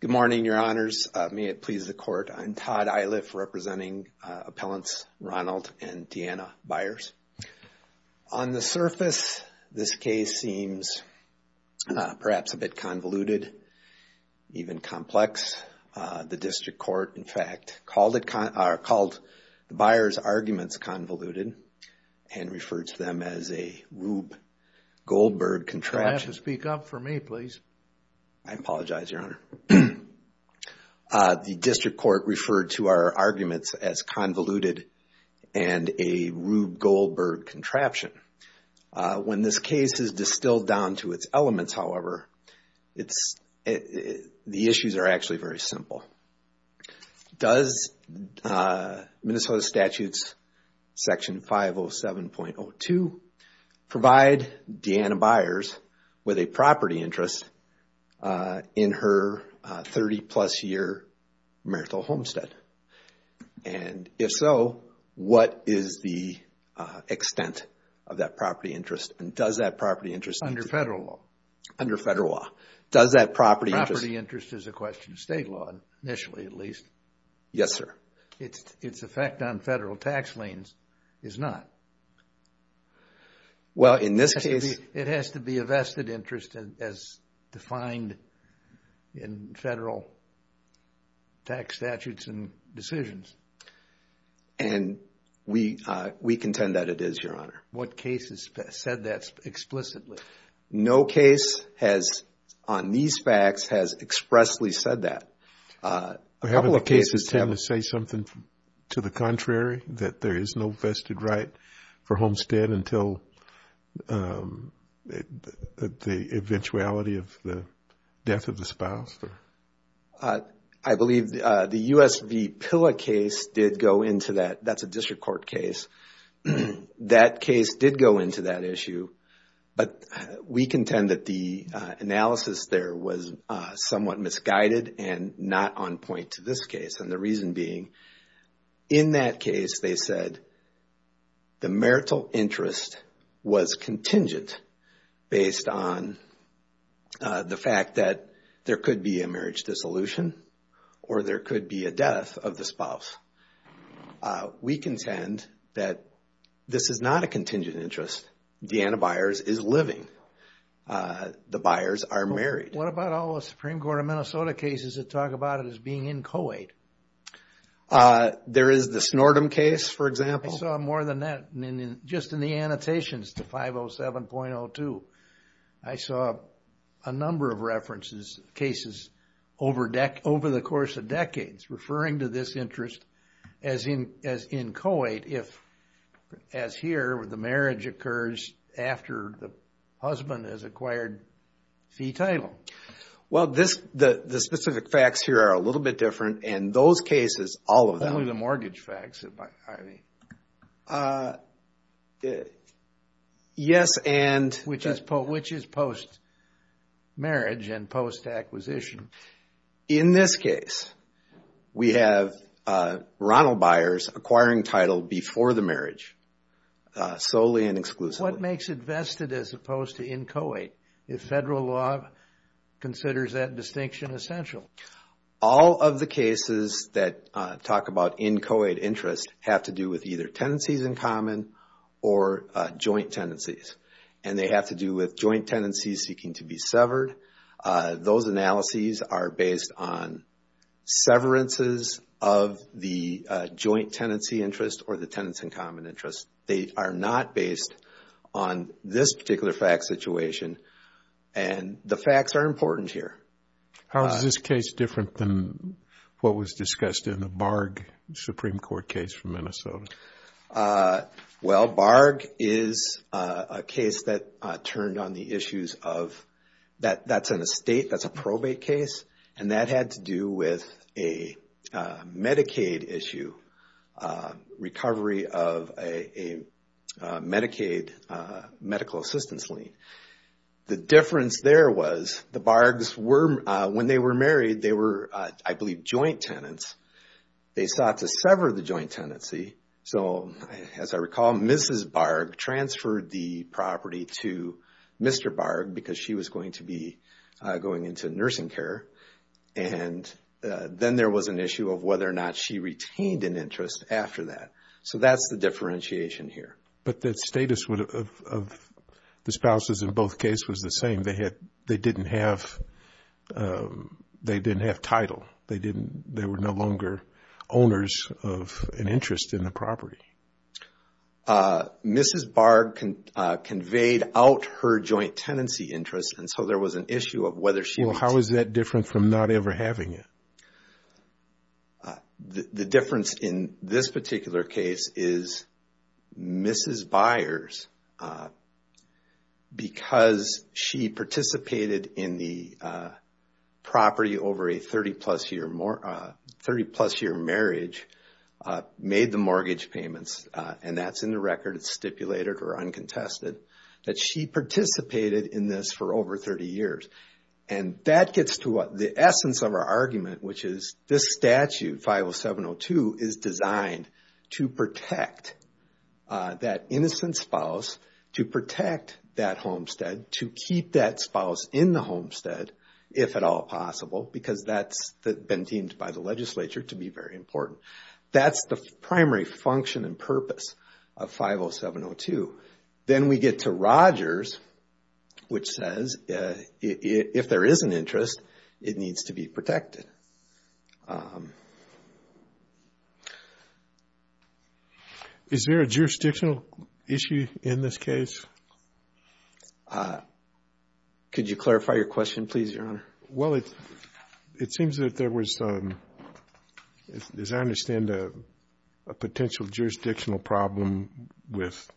Good morning, your honors. May it please the court. I'm Todd Eiliff, representing appellants Ronald and Deanna Byers. On the surface, this case seems perhaps a bit convoluted, even complex. The district court, in fact, called the Byers' arguments convoluted and referred to them as a rube goldmine. You'll have to speak up for me, please. I apologize, your honor. The district court referred to our arguments as convoluted and a rube gold bird contraption. When this case is distilled down to its elements, however, the issues are actually very simple. Does Minnesota statutes section 507.02 provide Deanna Byers with a property interest in her 30 plus year marital homestead? And if so, what is the extent of that property interest and does that property interest... Under federal law. Under federal law. Does that property interest... Initially, at least. Yes, sir. Its effect on federal tax liens is not. Well, in this case... It has to be a vested interest as defined in federal tax statutes and decisions. And we contend that it is, your honor. What cases said that explicitly? No case has, on these facts, has expressly said that. Haven't the cases tend to say something to the contrary, that there is no vested right for homestead until the eventuality of the death of the spouse? I believe the US v. Pilla case did go into that. That's a district court case. That case did go into that issue, but we contend that the analysis there was somewhat misguided and not on point to this case. And the reason being, in that case, they said the marital interest was contingent based on the fact that there could be a marriage dissolution or there could be a death of the spouse. We contend that this is not a contingent interest. Deanna Byers is living. The Byers are married. What about all the Supreme Court of Minnesota cases that talk about it as being inchoate? There is the Snortum case, for example. I saw more than that, just in the annotations to 507.02. I saw a number of references, cases over the course of decades, referring to this interest as inchoate if, as here, the marriage occurs after the husband has acquired fee title. Well, the specific facts here are a little bit different, and those cases, all of them. Only the mortgage facts, I mean. Yes, and... Which is post-marriage and post-acquisition. In this case, we have Ronald Byers acquiring title before the marriage, solely and exclusively. What makes it vested as opposed to inchoate, if federal law considers that distinction essential? All of the cases that talk about inchoate interest have to do with either tendencies in common or joint tendencies. And they have to do with joint tendencies seeking to be severed. Those analyses are based on severances of the joint tendency interest or the tenants in common interest. They are not based on this particular fact situation, and the facts are important here. How is this case different than what was discussed in the Barg Supreme Court case from Minnesota? Well, Barg is a case that turned on the issues of... That's in a state, that's a probate case, and that had to do with a Medicaid issue, recovery of a Medicaid medical assistance lien. The difference there was the Bargs were... When they were married, they were, I believe, joint tenants. They sought to sever the joint tendency. So, as I recall, Mrs. Barg transferred the property to Mr. Barg because she was going to be going into nursing care. And then there was an issue of whether or not she retained an interest after that. So that's the differentiation here. But the status of the spouses in both cases was the same. They didn't have title. They were no longer owners of an interest in the property. Mrs. Barg conveyed out her joint tendency interest, and so there was an issue of whether she... Well, how is that different from not ever having it? The difference in this particular case is Mrs. Byers, because she participated in the property over a 30-plus year marriage, made the mortgage payments, and that's in the record, it's stipulated or uncontested, that she participated in this for over 30 years. And that gets to the essence of our argument, which is this statute, 50702, is designed to protect that innocent spouse, to protect that homestead, to keep that spouse in the homestead, if at all possible, because that's been deemed by the legislature to be very important. That's the primary function and purpose of 50702. Then we get to Rogers, which says, if there is an interest, it needs to be protected. Is there a jurisdictional issue in this case? Could you clarify your question, please, Your Honor? Well, it seems that there was, as I understand, a potential jurisdictional problem with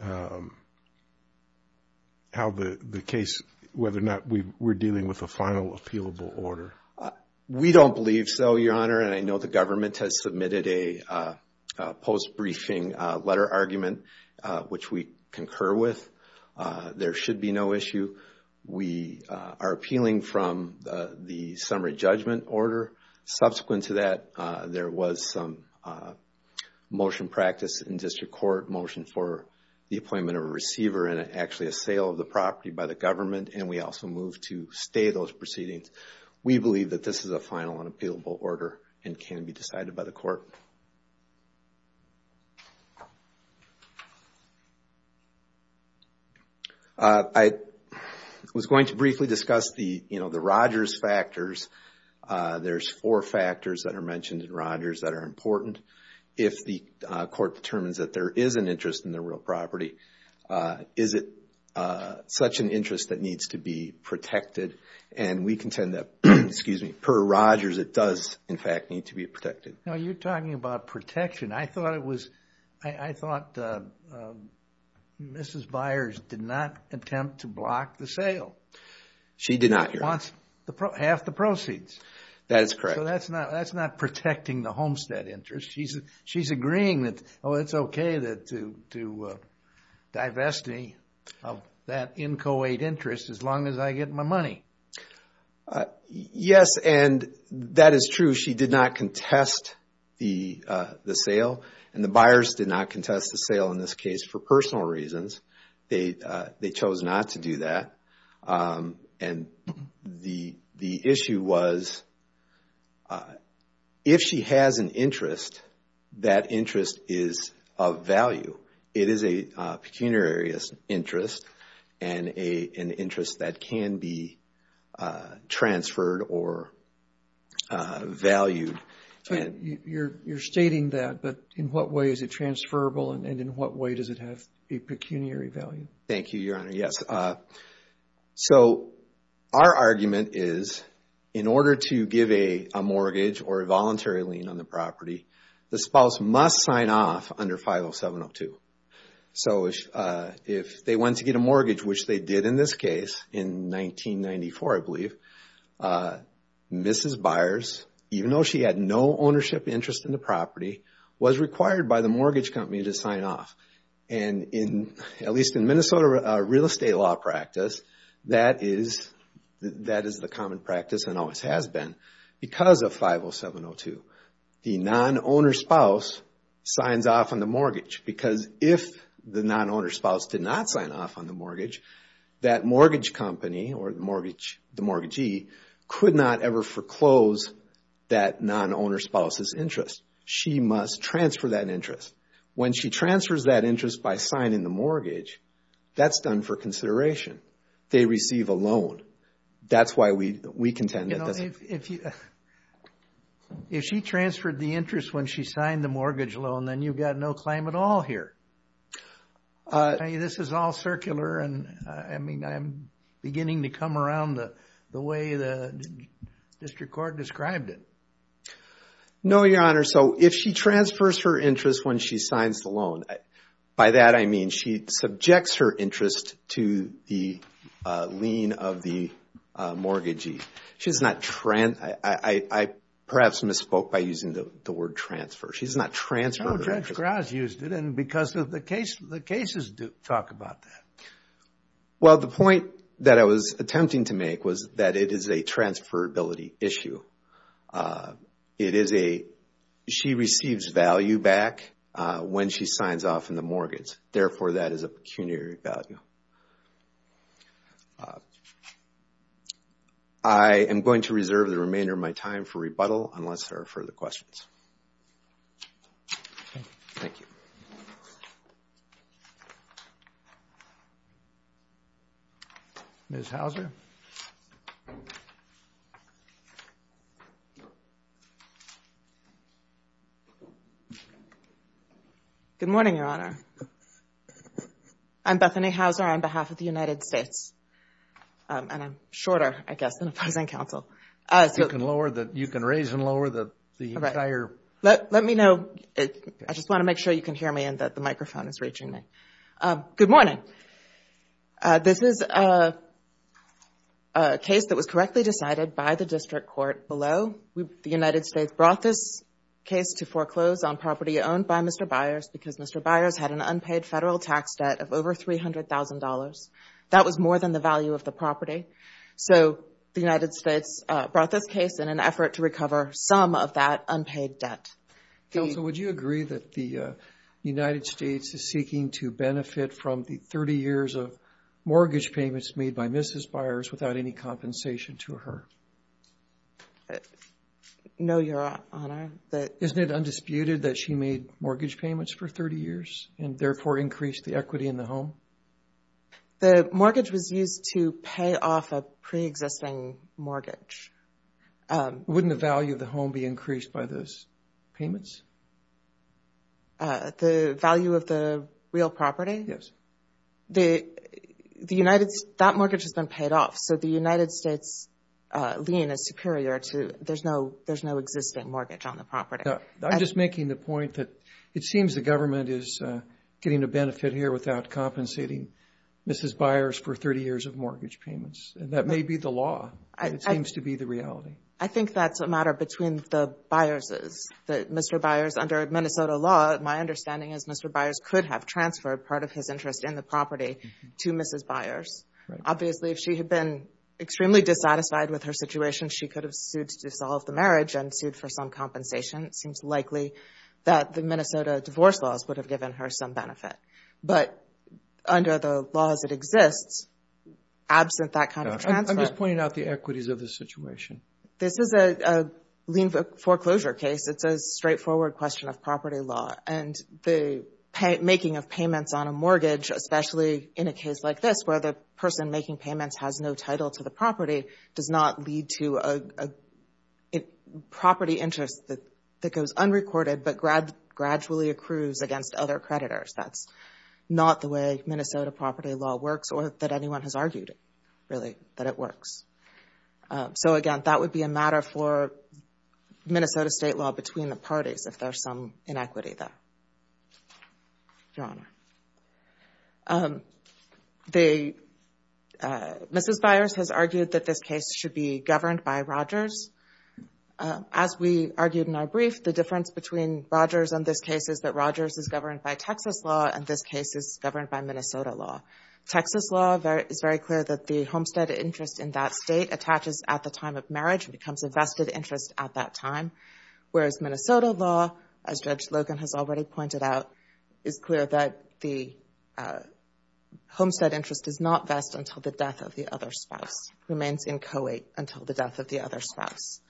how the case, whether or not we're dealing with a final appealable order. We don't believe so, Your Honor, and I know the government has submitted a post-briefing letter argument, which we concur with. There should be no issue. We are appealing from the summary judgment order. Subsequent to that, there was some motion practice in district court, motion for the appointment of a receiver and actually a sale of the property by the government, and we also moved to stay those proceedings. We believe that this is a final and appealable order and can be decided by the court. I was going to briefly discuss the Rogers factors. There's four factors that are mentioned in Rogers that are important. If the court determines that there is an interest in the real property, is it such an interest that needs to be protected? And we contend that, per Rogers, it does, in fact, need to be protected. Now, you're talking about protection. I thought Mrs. Byers did not attempt to block the sale. She did not, Your Honor. She wants half the proceeds. That is correct. So that's not protecting the homestead interest. She's agreeing that, oh, it's okay to divest me of that inchoate interest as long as I get my money. Yes, and that is true. She did not contest the sale, and the Byers did not contest the sale in this case for personal reasons. They chose not to do that, and the issue was if she has an interest, that interest is of value. It is a pecuniary interest and an interest that can be transferred or valued. You're stating that, but in what way is it transferable, and in what way does it have a pecuniary value? Thank you, Your Honor. Yes. So our argument is in order to give a mortgage or a voluntary lien on the property, the spouse must sign off under 50702. So if they want to get a mortgage, which they did in this case in 1994, I believe, Mrs. Byers, even though she had no ownership interest in the property, was required by the mortgage company to sign off. And at least in Minnesota real estate law practice, that is the common practice and always has been because of 50702. The non-owner spouse signs off on the mortgage because if the non-owner spouse did not sign off on the mortgage, that mortgage company or the mortgagee could not ever foreclose that non-owner spouse's interest. She must transfer that interest. When she transfers that interest by signing the mortgage, that's done for consideration. They receive a loan. That's why we contend that doesn't. If she transferred the interest when she signed the mortgage loan, then you've got no claim at all here. This is all circular, and I'm beginning to come around the way the district court described it. No, Your Honor. So if she transfers her interest when she signs the loan, by that I mean she subjects her interest to the lien of the mortgagee. I perhaps misspoke by using the word transfer. She does not transfer the interest. No, Judge Graz used it, and because of the cases talk about that. Well, the point that I was attempting to make was that it is a transferability issue. It is a she receives value back when she signs off on the mortgage. Therefore, that is a pecuniary value. I am going to reserve the remainder of my time for rebuttal unless there are further questions. Thank you. Ms. Hauser. Good morning, Your Honor. I'm Bethany Hauser on behalf of the United States. And I'm shorter, I guess, than a opposing counsel. You can raise and lower the entire. Let me know. I just want to make sure you can hear me and that the microphone is reaching me. Good morning. This is a case that was correctly decided by the district court below. The United States brought this case to foreclose on property owned by Mr. Byers because Mr. Byers had an unpaid federal tax debt of over $300,000. That was more than the value of the property. So the United States brought this case in an effort to recover some of that unpaid debt. Counsel, would you agree that the United States is seeking to benefit from the 30 years of mortgage payments made by Mrs. Byers without any compensation to her? No, Your Honor. Isn't it undisputed that she made mortgage payments for 30 years and therefore increased the equity in the home? The mortgage was used to pay off a preexisting mortgage. Wouldn't the value of the home be increased by those payments? The value of the real property? Yes. That mortgage has been paid off, so the United States lien is superior to there's no existing mortgage on the property. I'm just making the point that it seems the government is getting a benefit here without compensating Mrs. Byers for 30 years of mortgage payments. That may be the law, but it seems to be the reality. I think that's a matter between the Byerses. Mr. Byers, under Minnesota law, my understanding is Mr. Byers could have transferred part of his interest in the property to Mrs. Byers. Obviously, if she had been extremely dissatisfied with her situation, she could have sued to dissolve the marriage and sued for some compensation. It seems likely that the Minnesota divorce laws would have given her some benefit. But under the laws that exist, absent that kind of transfer. I'm just pointing out the equities of the situation. This is a lien foreclosure case. It's a straightforward question of property law, and the making of payments on a mortgage, especially in a case like this where the person making payments has no title to the property, does not lead to a property interest that goes unrecorded but gradually accrues against other creditors. That's not the way Minnesota property law works or that anyone has argued, really, that it works. So, again, that would be a matter for Minnesota state law between the parties if there's some inequity there, Your Honor. Mrs. Byers has argued that this case should be governed by Rogers. As we argued in our brief, the difference between Rogers and this case is that Rogers is governed by Texas law and this case is governed by Minnesota law. Texas law is very clear that the homestead interest in that state attaches at the time of marriage and becomes a vested interest at that time, whereas Minnesota law, as Judge Logan has already pointed out, is clear that the homestead interest does not vest until the death of the other spouse, remains inchoate until the death of the other spouse.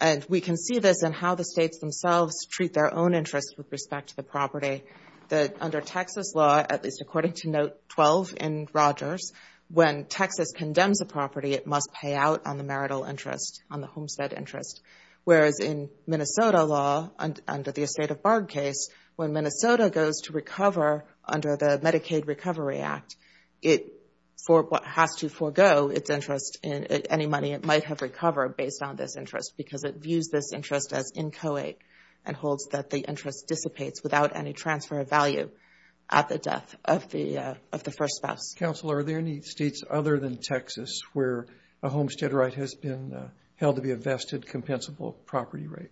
And we can see this in how the states themselves treat their own interests with respect to the property, that under Texas law, at least according to Note 12 in Rogers, when Texas condemns a property, it must pay out on the marital interest, on the homestead interest, whereas in Minnesota law, under the estate of Bard case, when Minnesota goes to recover under the Medicaid Recovery Act, it has to forego its interest in any money it might have recovered based on this interest because it views this interest as inchoate and holds that the interest dissipates without any transfer of value at the death of the first spouse. Counselor, are there any states other than Texas where a homestead right has been held to be a vested, compensable property right?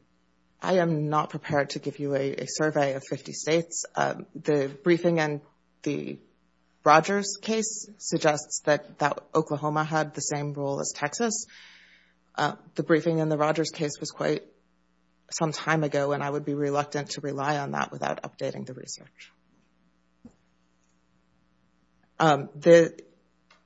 I am not prepared to give you a survey of 50 states. The briefing in the Rogers case suggests that Oklahoma had the same rule as Texas. The briefing in the Rogers case was quite some time ago, and I would be reluctant to rely on that without updating the research.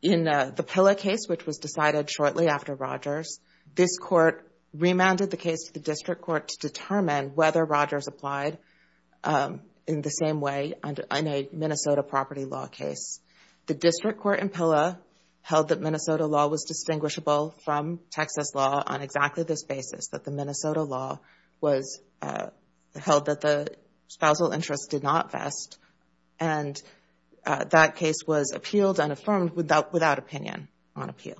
In the Pilla case, which was decided shortly after Rogers, this court remanded the case to the district court to determine whether Rogers applied in the same way in a Minnesota property law case. The district court in Pilla held that Minnesota law was distinguishable from Texas law on exactly this basis, that the Minnesota law held that the spousal interest did not vest and that case was appealed and affirmed without opinion on appeal.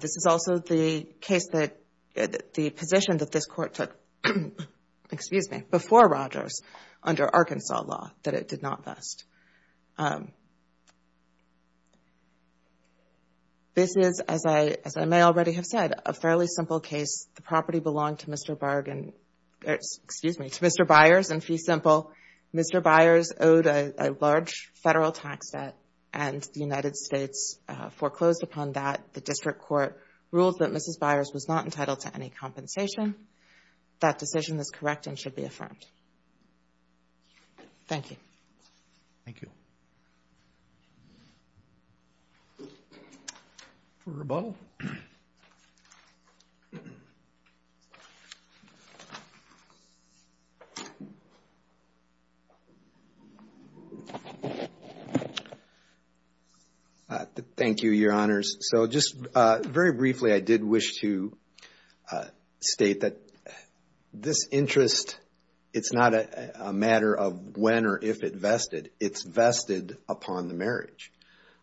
This is also the position that this court took before Rogers under Arkansas law, that it did not vest. This is, as I may already have said, a fairly simple case. The property belonged to Mr. Byers in fee simple. Mr. Byers owed a large federal tax debt, and the United States foreclosed upon that. The district court ruled that Mrs. Byers was not entitled to any compensation. That decision is correct and should be affirmed. Thank you. Thank you. Roberto. Thank you, Your Honors. So just very briefly, I did wish to state that this interest, it's not a matter of when or if it vested. It's vested upon the marriage.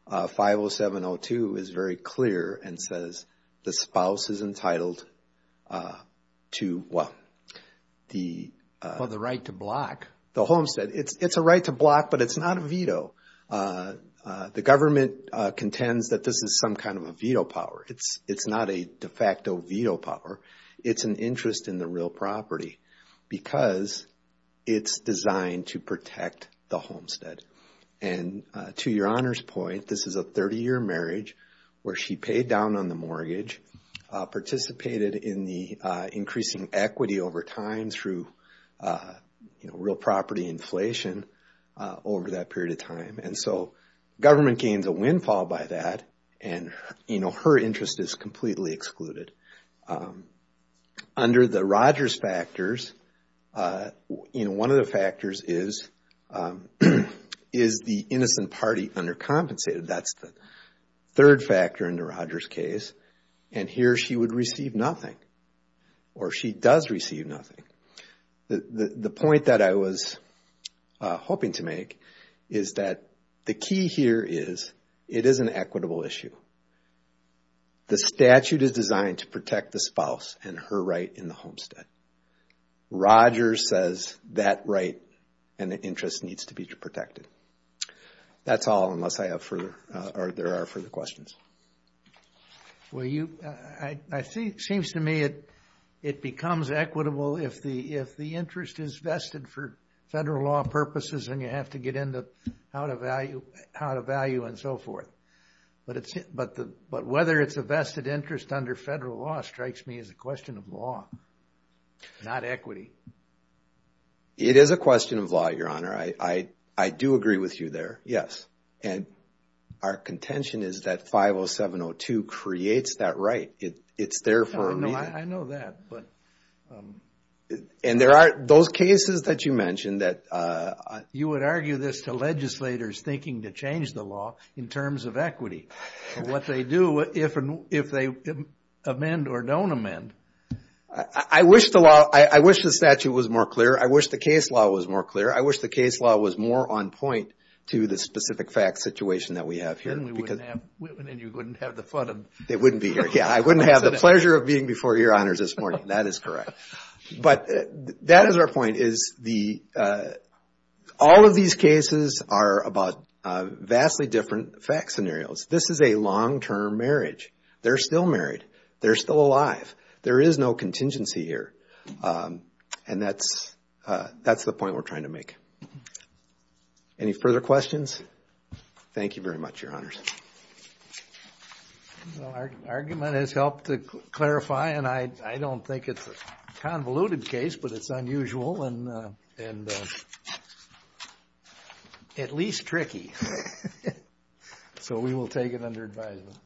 50702 is very clear and says the spouse is entitled to what? The right to block. The homestead. It's a right to block, but it's not a veto. The government contends that this is some kind of a veto power. It's not a de facto veto power. It's an interest in the real property because it's designed to protect the homestead. And to Your Honor's point, this is a 30-year marriage where she paid down on the mortgage, participated in the increasing equity over time through real property inflation over that period of time. And so government gains a windfall by that, and her interest is completely excluded. Under the Rogers factors, one of the factors is the innocent party undercompensated. That's the third factor in the Rogers case. And here she would receive nothing, or she does receive nothing. The point that I was hoping to make is that the key here is it is an equitable issue. The statute is designed to protect the spouse and her right in the homestead. Rogers says that right and the interest needs to be protected. That's all unless I have further or there are further questions. Well, it seems to me it becomes equitable if the interest is vested for federal law purposes and you have to get into how to value and so forth. But whether it's a vested interest under federal law strikes me as a question of law, not equity. It is a question of law, Your Honor. I do agree with you there, yes. And our contention is that 50702 creates that right. It's there for a reason. I know that. And there are those cases that you mentioned that... You would argue this to legislators thinking to change the law in terms of equity. What they do if they amend or don't amend. I wish the statute was more clear. I wish the case law was more clear. I wish the case law was more on point to the specific facts situation that we have here. And you wouldn't have the fun of... They wouldn't be here, yeah. I wouldn't have the pleasure of being before Your Honors this morning. That is correct. But that is our point is the... All of these cases are about vastly different fact scenarios. This is a long-term marriage. They're still married. They're still alive. There is no contingency here. And that's the point we're trying to make. Any further questions? Thank you very much, Your Honors. The argument has helped to clarify. And I don't think it's a convoluted case, but it's unusual and at least tricky. So we will take it under advisement.